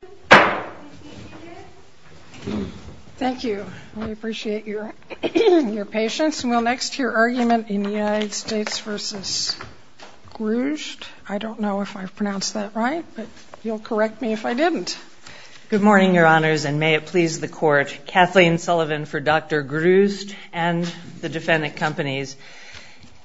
Good morning, Your Honors, and may it please the Court. Kathleen Sullivan for Dr. Grusd and the defendant companies.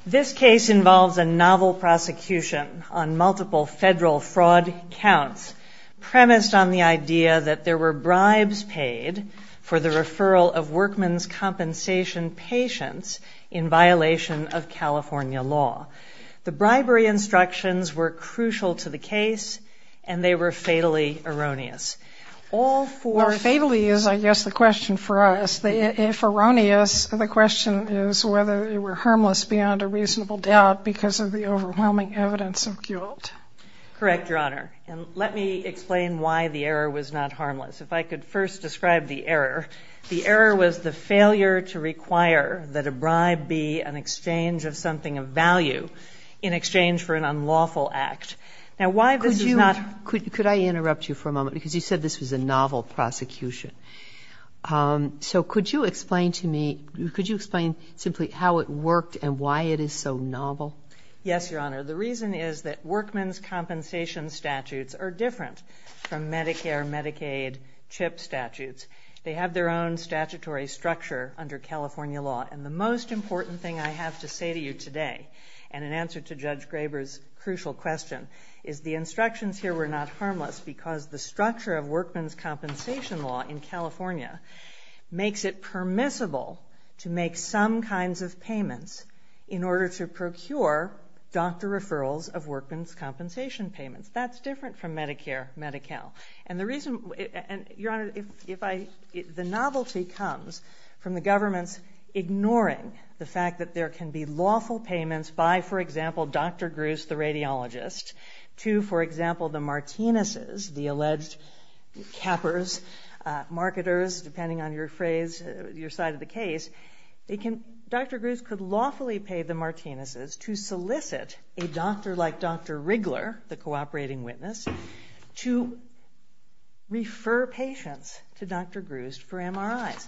This case involves a novel prosecution on multiple federal fraud counts premised on the idea that there were bribes paid for the referral of workman's compensation patients in violation of California law. The bribery instructions were crucial to the case, and they were fatally erroneous. All four of them. Well, fatally is, I guess, the question for us. If erroneous, the question is whether they were harmless beyond a reasonable doubt because of the overwhelming evidence of guilt. Correct, Your Honor. And let me explain why the error was not harmless. If I could first describe the error. The error was the failure to require that a bribe be an exchange of something of value in exchange for an unlawful act. Now, why this is not... Could you, could I interrupt you for a moment? Because you said this was a novel prosecution. So could you explain to me, could you explain simply how it worked and why it is so novel? Yes, Your Honor. The reason is that workman's compensation statutes are different from Medicare, Medicaid, CHIP statutes. They have their own statutory structure under California law. And the most important thing I have to say to you today, and in answer to Judge Graber's crucial question, is the instructions here were not harmless because the structure of workman's compensation law in California makes it permissible to make some kinds of payments in order to procure doctor referrals of workman's compensation payments. That's different from Medicare, Medi-Cal. And the reason, and Your Honor, if I, the novelty comes from the government's ignoring the fact that there can be lawful payments by, for example, Dr. Gruce, the radiologist, to, for example, the Martinez's, the alleged cappers, marketers, depending on your phrase, your side of the case, Dr. Gruce could lawfully pay the Martinez's to solicit a doctor like Dr. Riggler, the cooperating witness, to refer patients to Dr. Gruce for MRIs.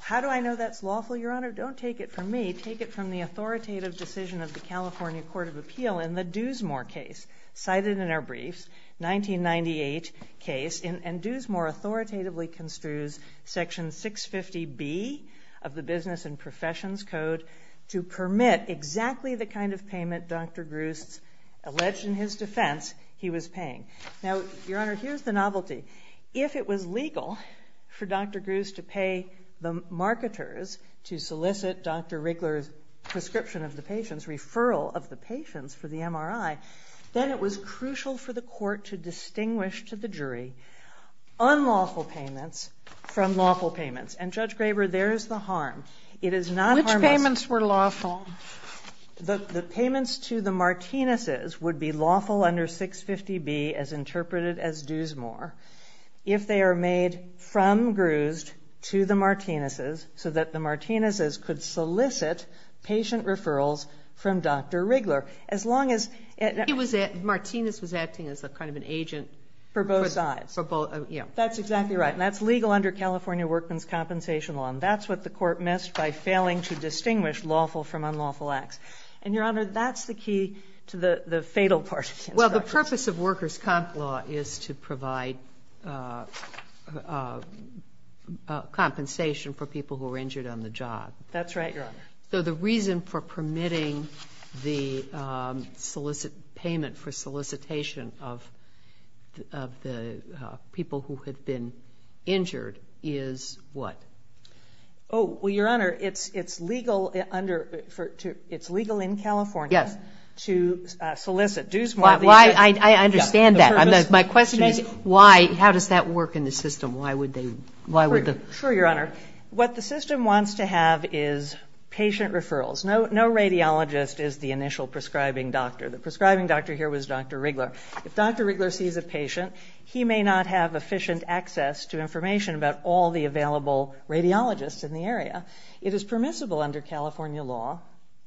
How do I know that's lawful, Your Honor? Don't take it from me. Take it from the authoritative decision of the California Court of Appeal in the Doosmore case, cited in our briefs, 1998 case, and Doosmore authoritatively construes Section 650B of the Business and Professions Code to permit exactly the kind of payment Dr. Gruce, alleged in his defense, he was paying. Now, Your Honor, here's the novelty. If it was legal for Dr. Gruce to pay the marketers to solicit Dr. Riggler's prescription of the patients for the MRI, then it was crucial for the court to distinguish to the jury unlawful payments from lawful payments. And Judge Graber, there's the harm. It is not harmless. Which payments were lawful? The payments to the Martinez's would be lawful under 650B as interpreted as Doosmore if they are made from Gruce to the Martinez's so that the Martinez's could solicit patient referrals from Dr. Riggler. As long as... He was at...Martinez was acting as a kind of an agent... For both sides. For both, yeah. That's exactly right. And that's legal under California Workman's Compensation Law. And that's what the court missed by failing to distinguish lawful from unlawful acts. And, Your Honor, that's the key to the fatal part of the instruction. Well, the purpose of workers' comp law is to provide compensation for people who were injured on the job. That's right, Your Honor. So the reason for permitting the payment for solicitation of the people who had been injured is what? Oh, well, Your Honor, it's legal in California to solicit Doosmore... I understand that. My question is why, how does that work in the system? Why would they... Sure, Your Honor. What the system wants to have is patient referrals. No radiologist is the initial prescribing doctor. The prescribing doctor here was Dr. Riggler. If Dr. Riggler sees a patient, he may not have efficient access to information about all the available radiologists in the area. It is permissible under California law,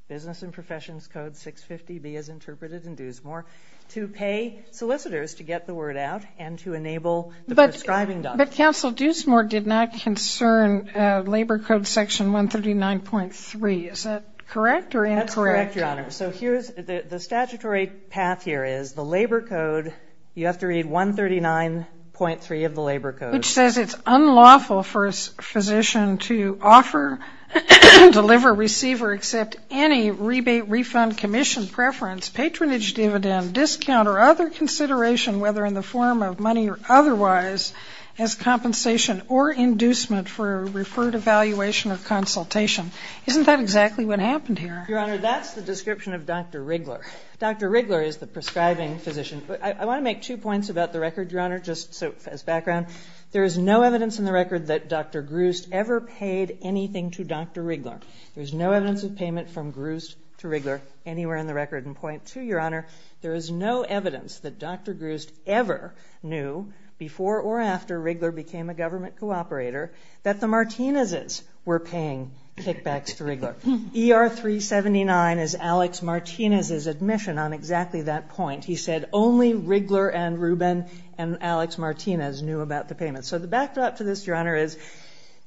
Business and Professions Code 650B as interpreted in Doosmore, to pay solicitors to get the word out and to enable the prescribing doctor. But Council, Doosmore did not concern Labor Code Section 139.3. Is that correct or incorrect? That's correct, Your Honor. So here's the statutory path here is the Labor Code, you have to read 139.3 of the Labor Code. Which says it's unlawful for a physician to offer, deliver, receive, or accept any rebate, refund, commission, preference, patronage, dividend, discount, or other consideration whether in the form of money or otherwise as compensation or inducement for a referred evaluation or consultation. Isn't that exactly what happened here? Your Honor, that's the description of Dr. Riggler. Dr. Riggler is the prescribing physician. I want to make two points about the record, Your Honor, just as background. There is no evidence in the record that Dr. Grust ever paid anything to Dr. Riggler. There's no evidence of payment from Grust to Riggler anywhere in the record. And point two, Your Honor, there is no evidence that Dr. Grust ever knew before or after Riggler became a government cooperator that the Martinez's were paying kickbacks to Riggler. ER 379 is Alex Martinez's admission on exactly that point. He said only Riggler and Rubin and Alex Martinez knew about the payment. So the backdrop to this, Your Honor, is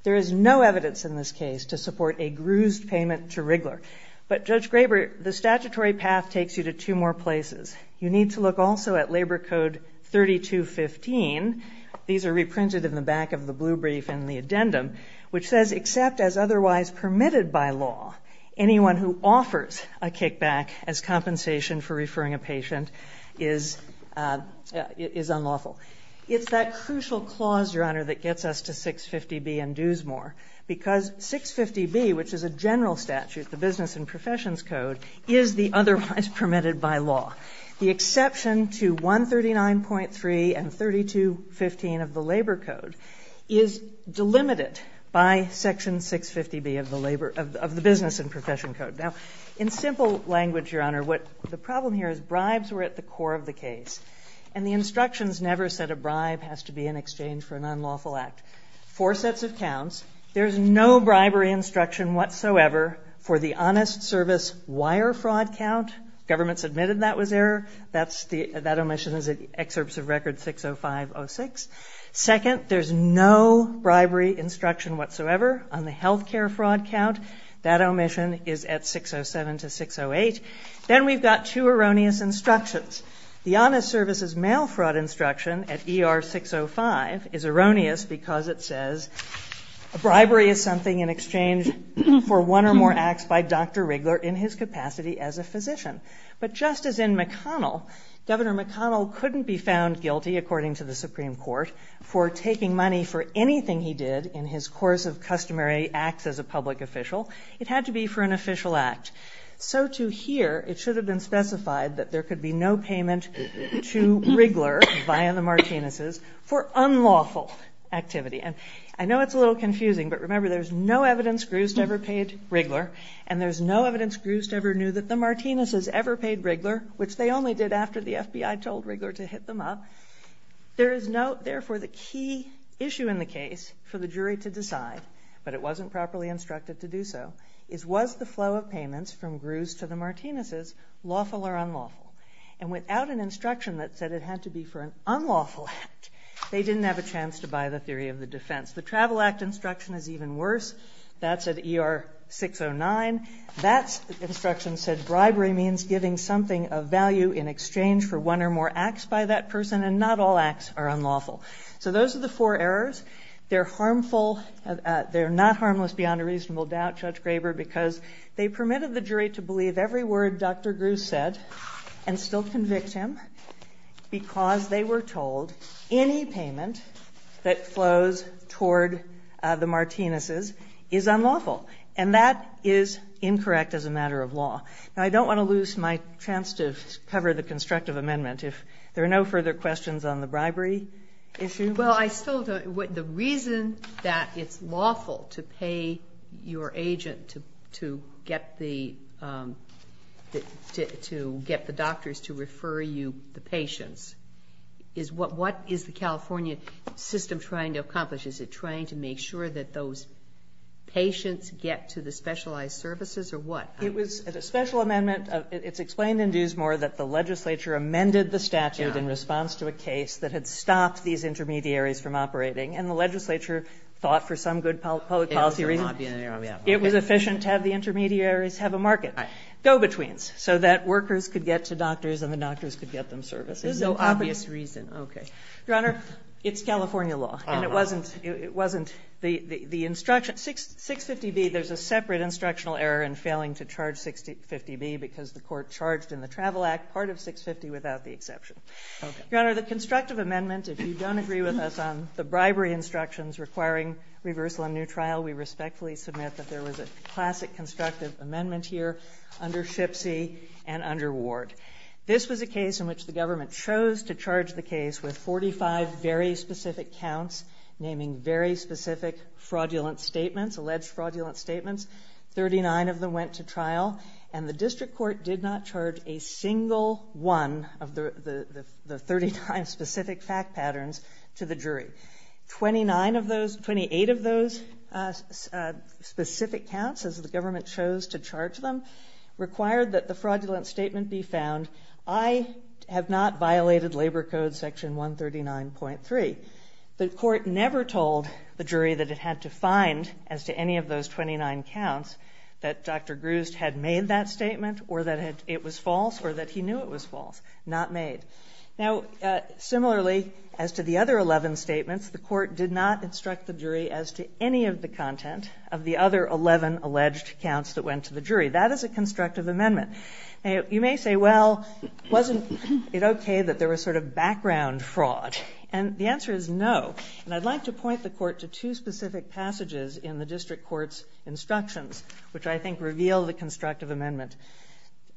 there is no evidence in this case to support a Grust payment to Riggler. But Judge Graber, the statutory path takes you to two more places. You need to look also at Labor Code 3215. These are reprinted in the back of the blue brief in the addendum, which says except as otherwise permitted by law, anyone who offers a kickback as compensation for referring a patient is unlawful. It's that crucial clause, Your Honor, that gets us to 650B and Dewsmore. Because 650B, which is a general statute, the Business and Professions Code, is the otherwise permitted by law. The exception to 139.3 and 3215 of the Labor Code is delimited by section 650B of the Labor, of the Business and Profession Code. Now, in simple language, Your Honor, what the problem here is bribes were at the core of the case. And the instructions never said a bribe has to be in exchange for an unlawful act. Four sets of counts. There's no bribery instruction whatsoever for the honest service wire fraud count. Government's admitted that was error. That's the, that omission is at excerpts of record 60506. Second, there's no bribery instruction whatsoever on the healthcare fraud count. That omission is at 607 to 608. Then we've got two erroneous instructions. The honest services mail fraud instruction at ER 605 is erroneous because it says a bribery is something in exchange for one or more acts by Dr. Riggler in his capacity as a physician. But just as in McConnell, Governor McConnell couldn't be found guilty, according to the Supreme Court, for taking money for anything he did in his course of customary acts as a public official. It had to be for an official act. So to here, it should have been specified that there could be no payment to Riggler via the Martinez's for unlawful activity. And I know it's a little confusing, but remember there's no evidence Groust ever paid Riggler and there's no evidence Groust ever knew that the Martinez's ever paid Riggler, which they only did after the FBI told Riggler to hit them up. There is no, therefore the key issue in the case for the jury to decide, but it wasn't properly instructed to do so, is was the flow of payments from Groust to the Martinez's lawful or unlawful? And without an instruction that said it had to be for an unlawful act, they didn't have a chance to buy the theory of the defense. The Travel Act instruction is even worse. That's at ER 609. That instruction said bribery means giving something of value in exchange for one or more acts by that person and not all acts are unlawful. So those are the four errors. They're harmful, they're not harmless beyond a reasonable doubt, Judge Graber, because they permitted the jury to believe every word Dr. Groust said and still convict him because they were told any payment that flows toward the Martinez's is unlawful. And that is incorrect as a matter of law. Now, I don't want to lose my chance to cover the constructive amendment. If there are no further questions on the bribery issue. Well, I still don't. The reason that it's lawful to pay your agent to get the doctors to refer you the patients is what is the California system trying to accomplish? Is it trying to make sure that those patients get to the specialized services or what? It was a special amendment. It's explained in Duesmore that the legislature amended the intermediaries from operating and the legislature thought for some good public policy reason it was efficient to have the intermediaries have a market, go-betweens, so that workers could get to doctors and the doctors could get them services. There's no obvious reason. Okay. Your Honor, it's California law and it wasn't the instruction. 650B, there's a separate instructional error in failing to charge 650B because the court charged in the Travel Act part of 650 without the exception. Okay. Your Honor, the constructive amendment, if you don't agree with us on the bribery instructions requiring reversal in a new trial, we respectfully submit that there was a classic constructive amendment here under Shipsey and under Ward. This was a case in which the government chose to charge the case with 45 very specific counts naming very specific fraudulent statements, alleged fraudulent statements. Thirty-nine of them went to trial and the district court did not charge a single one of the thirty-nine specific fact patterns to the jury. Twenty-nine of those, twenty-eight of those specific counts as the government chose to charge them required that the fraudulent statement be found. I have not violated Labor Code section 139.3. The court never told the jury that it had to find, as to any of those twenty-nine counts, that Dr. Grust had made that statement or that it was false or that he knew it was false. Not made. Now, similarly, as to the other eleven statements, the court did not instruct the jury as to any of the content of the other eleven alleged counts that went to the jury. That is a constructive amendment. You may say, well, wasn't it okay that there was sort of background fraud? And the answer is no. And I'd like to point the court to two specific passages in the district court's instructions, which I think reveal the constructive amendment.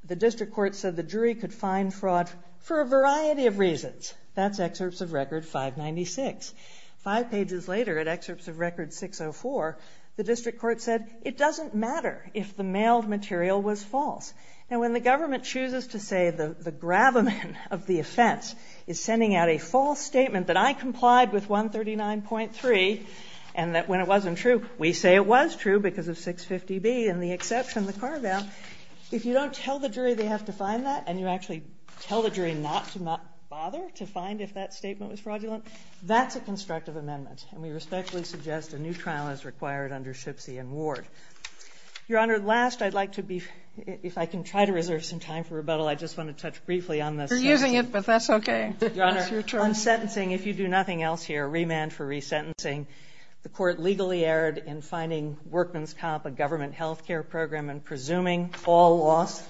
The district court said the jury could find fraud for a variety of reasons. That's excerpts of Record 596. Five pages later, at excerpts of Record 604, the district court said, it doesn't matter if the mailed material was false. And when the government chooses to say the gravamen of the offense is sending out a false statement that I complied with 139.3, and that when it wasn't true, we say it was true because of 650B and the exception, the carve-out, if you don't tell the jury they have to find that, and you actually tell the jury not to bother to find if that statement was fraudulent, that's a constructive amendment. And we respectfully suggest a new trial is required under Shipsie and Ward. Your Honor, last, I'd like to be, if I can try to reserve some time for rebuttal, I just want to touch briefly on this. You're using it, but that's okay. Your Honor, on sentencing, if you do nothing else here, remand for resentencing. The court legally erred in finding Workman's Comp, a government health care program, and presuming all loss,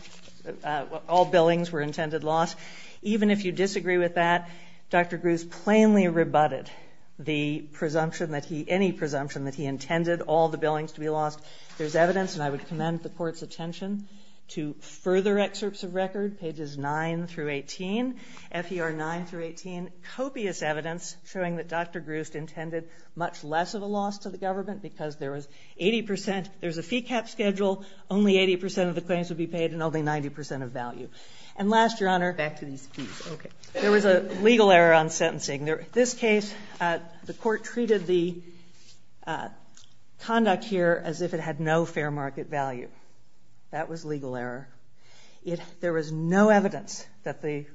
all billings were intended loss. Even if you disagree with that, Dr. Grews plainly rebutted the presumption that he, any presumption that he intended all the billings to be lost. There's evidence, and I would commend the court's attention to further excerpts of record, pages 9-18, FER9-18, copious evidence showing that Dr. Grews intended much less of a loss to the government because there was 80%, there's a fee cap schedule, only 80% of the claims would be paid and only 90% of value. And last, Your Honor, back to these fees, okay. There was a legal error on sentencing. This case, the court treated the conduct here as if it had no fair market value. That was legal error. There was no evidence that the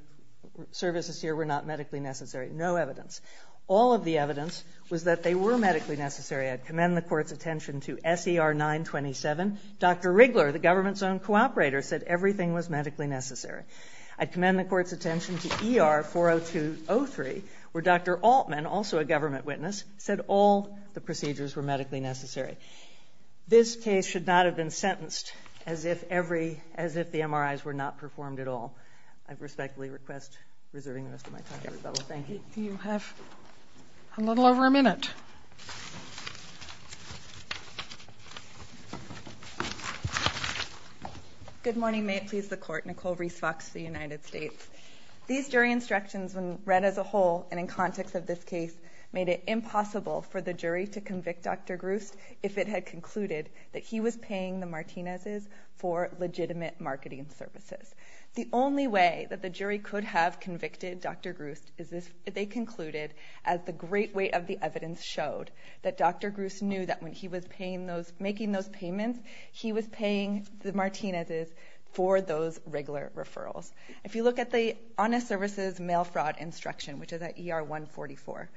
services here were not medically necessary, no evidence. All of the evidence was that they were medically necessary. I'd commend the court's attention to SER9-27. Dr. Riggler, the government's own cooperator, said everything was medically necessary. I'd commend the court's attention to ER402-03, where Dr. Altman, also a government witness, said all the procedures were medically necessary. This case should not have been sentenced as if every, as if the MRIs were not performed at all. I respectfully request reserving the rest of my time to Rebecca. Thank you. Do you have a little over a minute? Good morning. May it please the Court. Nicole Reese Fox, the United States. These jury instructions when read as a whole and in context of this case made it impossible for the jury to convict Dr. Grust if it had concluded that he was paying the Martinez's for legitimate marketing services. The only way that the jury could have convicted Dr. Grust is if they concluded, as the great weight of the evidence showed, that Dr. Grust knew that when he was making those payments, he was paying the Martinez's for those Riggler referrals. If you look at the honest services mail fraud instruction, which is at ER144,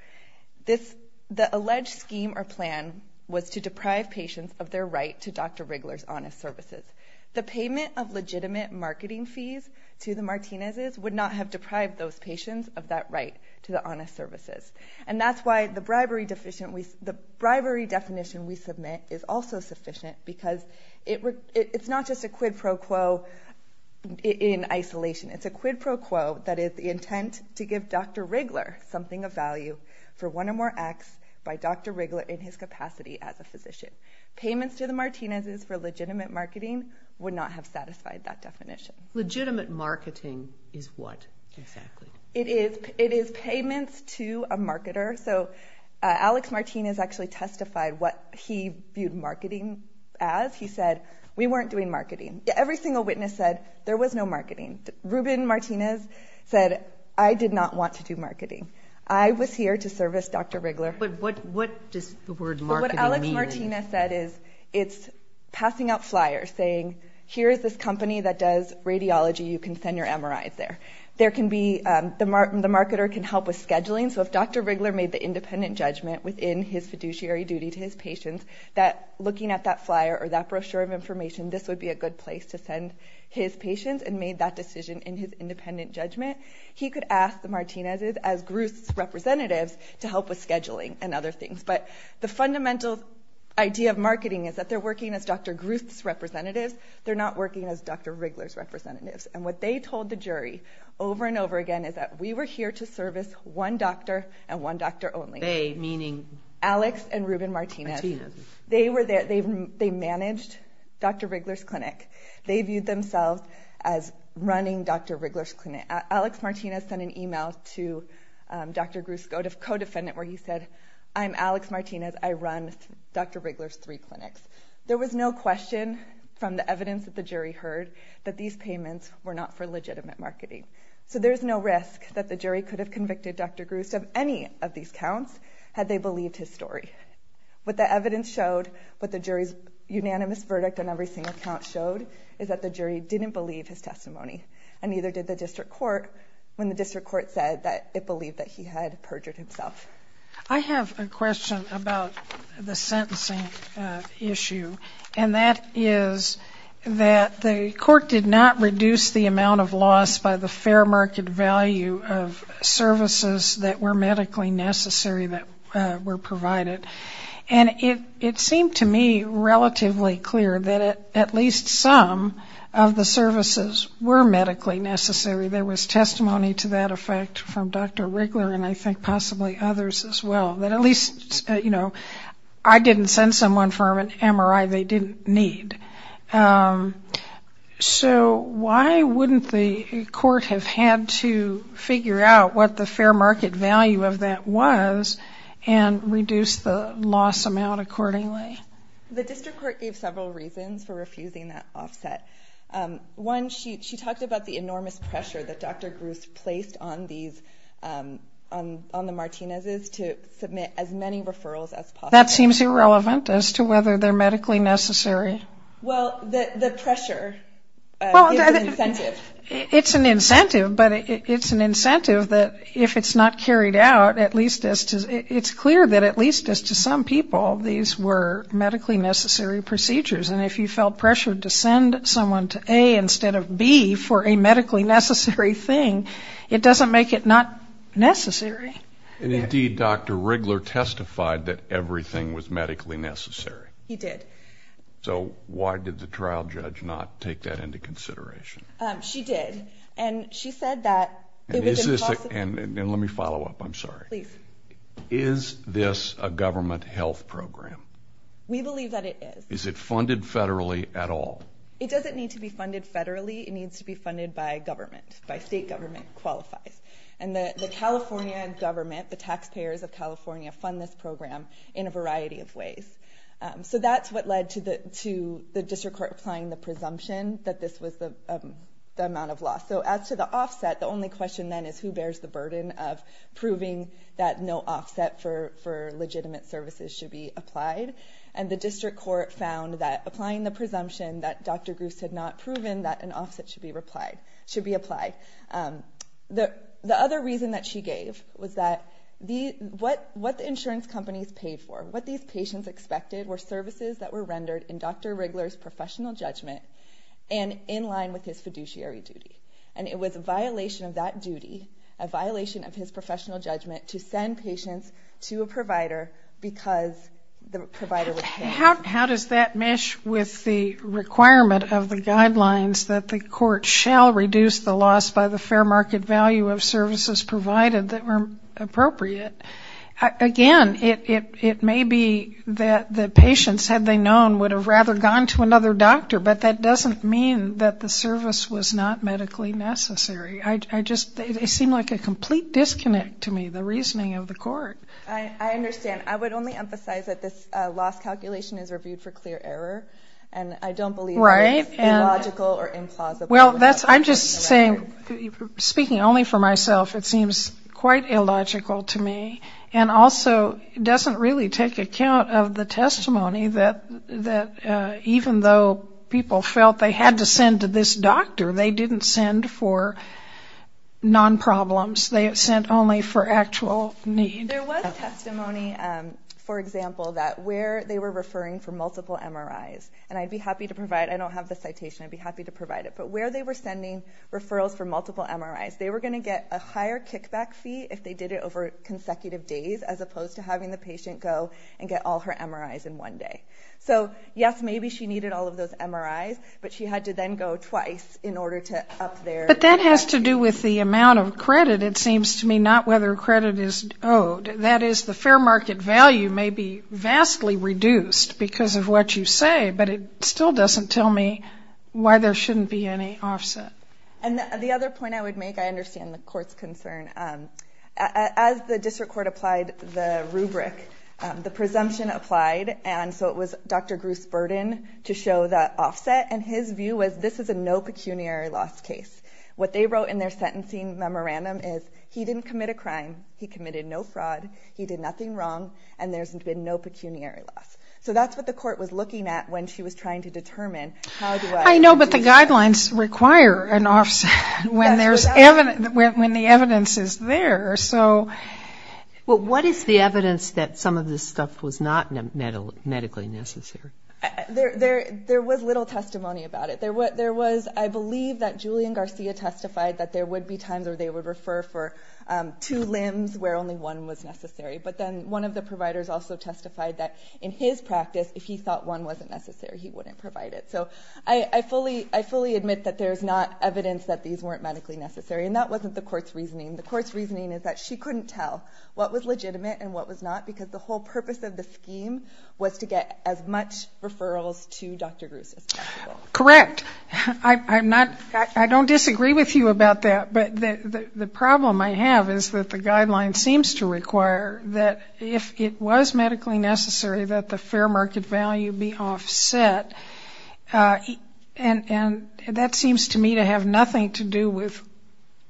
the alleged scheme or plan was to deprive patients of their right to Dr. Riggler's honest services. The payment of legitimate marketing fees to the Martinez's would not have deprived those patients of that right to the honest services. And that's why the bribery definition we submit is also a quid pro quo in isolation. It's a quid pro quo that is the intent to give Dr. Riggler something of value for one or more acts by Dr. Riggler in his capacity as a physician. Payments to the Martinez's for legitimate marketing would not have satisfied that definition. Legitimate marketing is what, exactly? It is payments to a marketer. So Alex Martinez actually testified what he viewed marketing as. He said, we weren't doing marketing. Every single witness said, there was no marketing. Ruben Martinez said, I did not want to do marketing. I was here to service Dr. Riggler. But what does the word marketing mean? What Alex Martinez said is, it's passing out flyers saying, here's this company that does radiology, you can send your MRIs there. The marketer can help with scheduling. So if Dr. Riggler made the independent judgment within his fiduciary duty to his patients, that looking at that flyer or that brochure of information, this would be a good place to send his patients and made that decision in his independent judgment. He could ask the Martinez's as Groot's representatives to help with scheduling and other things. But the fundamental idea of marketing is that they're working as Dr. Groot's representatives. They're not working as Dr. Riggler's representatives. And what they told the jury over and over again is we were here to service one doctor and one doctor only. They, meaning? Alex and Ruben Martinez. They managed Dr. Riggler's clinic. They viewed themselves as running Dr. Riggler's clinic. Alex Martinez sent an email to Dr. Groot's co-defendant where he said, I'm Alex Martinez. I run Dr. Riggler's three clinics. There was no question from the evidence that the jury heard that these payments were not for legitimate marketing. So there's no risk that the jury could have convicted Dr. Groot of any of these counts had they believed his story. What the evidence showed, what the jury's unanimous verdict on every single count showed is that the jury didn't believe his testimony. And neither did the district court when the district court said that it believed that he had perjured himself. I have a question about the sentencing issue. And that is that the court did not reduce the amount of loss by the fair market value of services that were medically necessary that were provided. And it seemed to me relatively clear that at least some of the services were medically necessary. There was testimony to that effect from Dr. Riggler and I think possibly others as well. That at least I didn't send someone for an MRI they didn't need. So why wouldn't the court have had to figure out what the fair market value of that was and reduce the loss amount accordingly? The district court gave several reasons for refusing that offset. One, she talked about the enormous pressure that Dr. Groot placed on the Martinez's to submit as many referrals as possible. That seems irrelevant as to whether they're medically necessary. Well, the pressure is an incentive. It's an incentive, but it's an incentive that if it's not carried out at least it's clear that at least as to some people these were medically necessary procedures. And if you have a medically necessary thing, it doesn't make it not necessary. And indeed Dr. Riggler testified that everything was medically necessary. He did. So why did the trial judge not take that into consideration? She did. And she said that it was impossible. And let me follow up, I'm sorry. Is this a government health program? We believe that it is. Is it funded federally at all? It doesn't need to be funded federally. It needs to be funded by government, by state government qualifies. And the California government, the taxpayers of California fund this program in a variety of ways. So that's what led to the district court applying the presumption that this was the amount of loss. So as to the offset, the only question then is who bears the burden of proving that no offset for legitimate services should be applied. And the district court found that applying the presumption that Dr. Gruce had not proven that an offset should be applied. The other reason that she gave was that what the insurance companies paid for, what these patients expected were services that were rendered in Dr. Riggler's professional judgment and in line with his fiduciary duty. And it was a violation of that duty, a violation of his professional judgment to send patients to a provider because the provider was paying. How does that mesh with the requirement of the guidelines that the court shall reduce the loss by the fair market value of services provided that were appropriate? Again, it may be that the patients, had they known, would have rather gone to another doctor. But that doesn't mean that the service was not medically necessary. I just, they seem like a complete disconnect to me, the reasoning of the court. I understand. I would only emphasize that this loss calculation is reviewed for clear error. And I don't believe it's illogical or implausible. Well that's, I'm just saying, speaking only for myself, it seems quite illogical to me. And also doesn't really take account of the testimony that even though people felt they had to send to this doctor, they didn't send for non-problems. They sent only for actual need. There was testimony, for example, that where they were referring for multiple MRIs. And I'd be happy to provide, I don't have the citation, I'd be happy to provide it. But where they were sending referrals for multiple MRIs, they were going to get a higher kickback fee if they did it over consecutive days as opposed to having the patient go and get all her MRIs in one day. So yes, maybe she needed all of those MRIs, but she had to then go twice in order to up their... But that has to do with the amount of credit, it seems to me, not whether credit is owed. That is, the fair market value may be vastly reduced because of what you say, but it still doesn't tell me why there shouldn't be any offset. And the other point I would make, I understand the court's concern. As the district court applied the rubric, the presumption applied, and so it was Dr. Bruce Burden to show that offset, and his view was this is a no pecuniary loss case. What they wrote in their sentencing memorandum is he didn't commit a crime, he committed no fraud, he did nothing wrong, and there's been no pecuniary loss. So that's what the court was looking at when she was trying to determine how do I... I know, but the guidelines require an offset when the evidence is there, so... Well, what is the evidence that some of this stuff was not medically necessary? There was little testimony about it. There was, I believe that Julian Garcia testified that there would be times where they would refer for two limbs where only one was necessary, but then one of the providers also testified that in his practice, if he thought one wasn't necessary, he wouldn't provide it. So I fully admit that there's not evidence that these weren't medically necessary, and that wasn't the court's reasoning. The court's reasoning is that she couldn't tell what was legitimate and what was not, because the whole purpose of the scheme was to get as much referrals to Dr. Bruce as possible. Correct. I'm not... I don't disagree with you about that, but the problem I have is that the guideline seems to require that if it was medically necessary, that the fair market value be offset. And that seems to me to have nothing to do with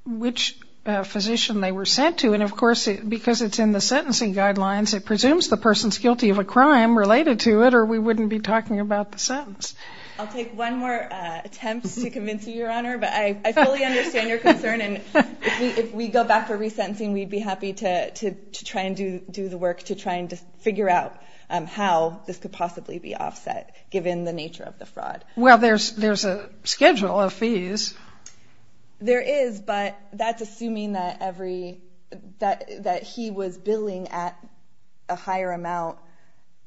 which physician they were sent to. And of course, because it's in the sentencing guidelines, it presumes the person's guilty of a crime related to it, or we wouldn't be talking about the sentence. I'll take one more attempt to convince you, Your Honor, but I fully understand your concern, and if we go back to resentencing, we'd be happy to try and do the work to try and figure out how this could possibly be offset, given the nature of the fraud. Well, there's a schedule of fees. There is, but that's assuming that every... that he was billing at a higher amount,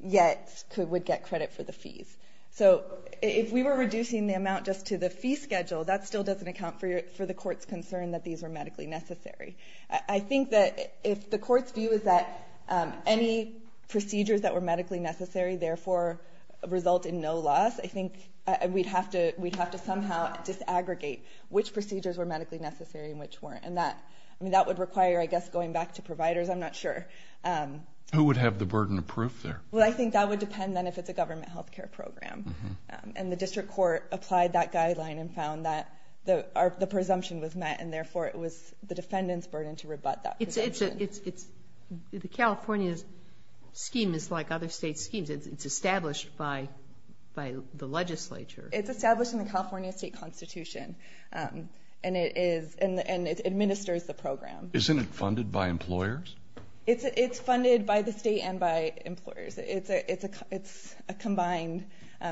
yet would get credit for the fees. So if we were reducing the amount just to the fee schedule, that still doesn't account for the court's concern that these were medically necessary. I think that if the court's view is that any procedures that were medically necessary, therefore result in no loss, I think we'd have to somehow disaggregate which procedures were medically necessary and which weren't. And that would require, I guess, going back to providers, I'm not sure. Who would have the burden of proof there? Well, I think that would depend, then, if it's a government healthcare program. And the district court applied that guideline and found that the presumption was met, and therefore it was the defendant's burden to rebut that presumption. The California scheme is like other state schemes. It's established by the legislature. It's established in the California state constitution, and it administers the program. Isn't it funded by employers? It's funded by the state and by employers. It's a combined,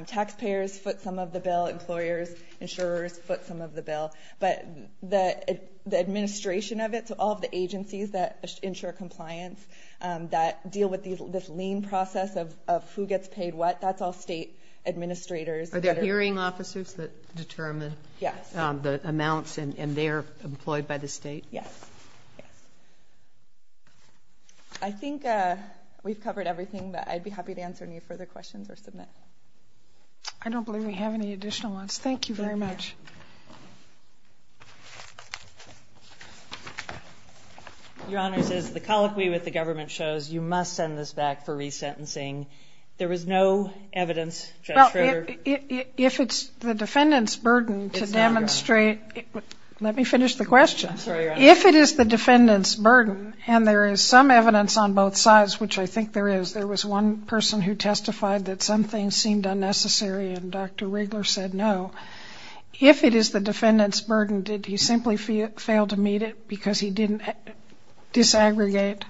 taxpayers foot some of the bill, employers, insurers foot some of the bill. But the administration of it, so all of the agencies that ensure compliance, that deal with this lien process of who gets paid what, that's all state administrators. Are there hearing officers that determine the amounts, and they're employed by the state? Yes, yes. I think we've covered everything, but I'd be happy to answer any further questions or submit. I don't believe we have any additional ones. Thank you very much. Your Honor, it says the colloquy with the government shows you must send this back for re-sentencing. There was no evidence, Judge Schroeder. Well, if it's the defendant's burden to demonstrate, let me finish the question. I'm sorry, Your Honor. If it is the defendant's burden, and there is some evidence on both sides, which I think there is, there was one person who testified that something seemed unnecessary, and Dr. Wrigler said no. If it is the defendant's burden, did he simply fail to meet it because he didn't disaggregate?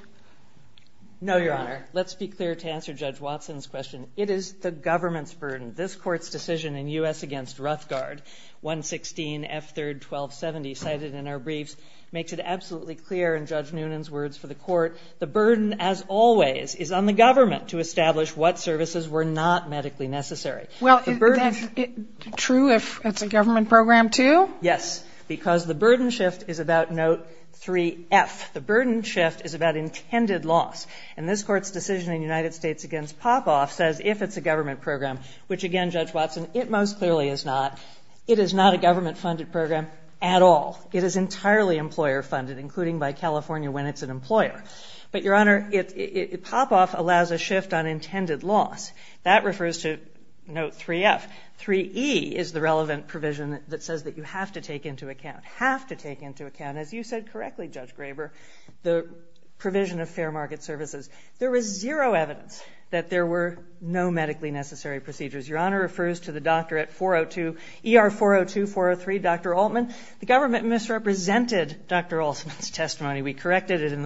No, Your Honor. Let's be clear to answer Judge Watson's question. It is the government's burden. This Court's decision in U.S. against Ruthgard, 116F3R1270, cited in our briefs, makes it absolutely clear in Judge Noonan's words for the Court, the burden, as always, is on the government to establish what services were not medically necessary. Well, is that true if it's a government program, too? Yes, because the burden shift is about note 3F. The burden shift is about intended loss. And this Court's decision in United States against Popoff says, if it's a government program, which again, Judge Watson, it most clearly is not. It is not a government-funded program at all. It is entirely employer-funded, including by California when it's an employer. But Your Honor, Popoff allows a shift on intended loss. That refers to note 3F. 3E is the relevant provision that says that you have to take into account, have to take into account, as you said correctly, Judge Graber, the provision of fair market services. There was zero evidence that there were no medically necessary procedures. Your Honor refers to the doctor at ER402, 403, Dr. Altman. The government misrepresented Dr. Altman's testimony. We corrected it in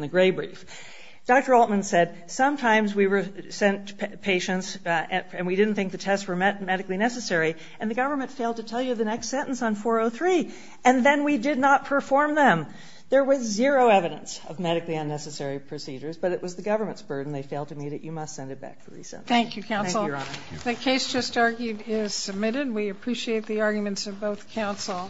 the gray brief. Dr. Altman said, sometimes we sent patients, and we didn't think the tests were medically necessary, and the government failed to tell you the next sentence on 403. And then we did not perform them. There was zero evidence of medically unnecessary procedures, but it was the government's burden. They failed to meet it. You must send it back for resentment. Thank you, Counsel. Thank you, Your Honor. The case just argued is submitted. We appreciate the arguments of both counsel.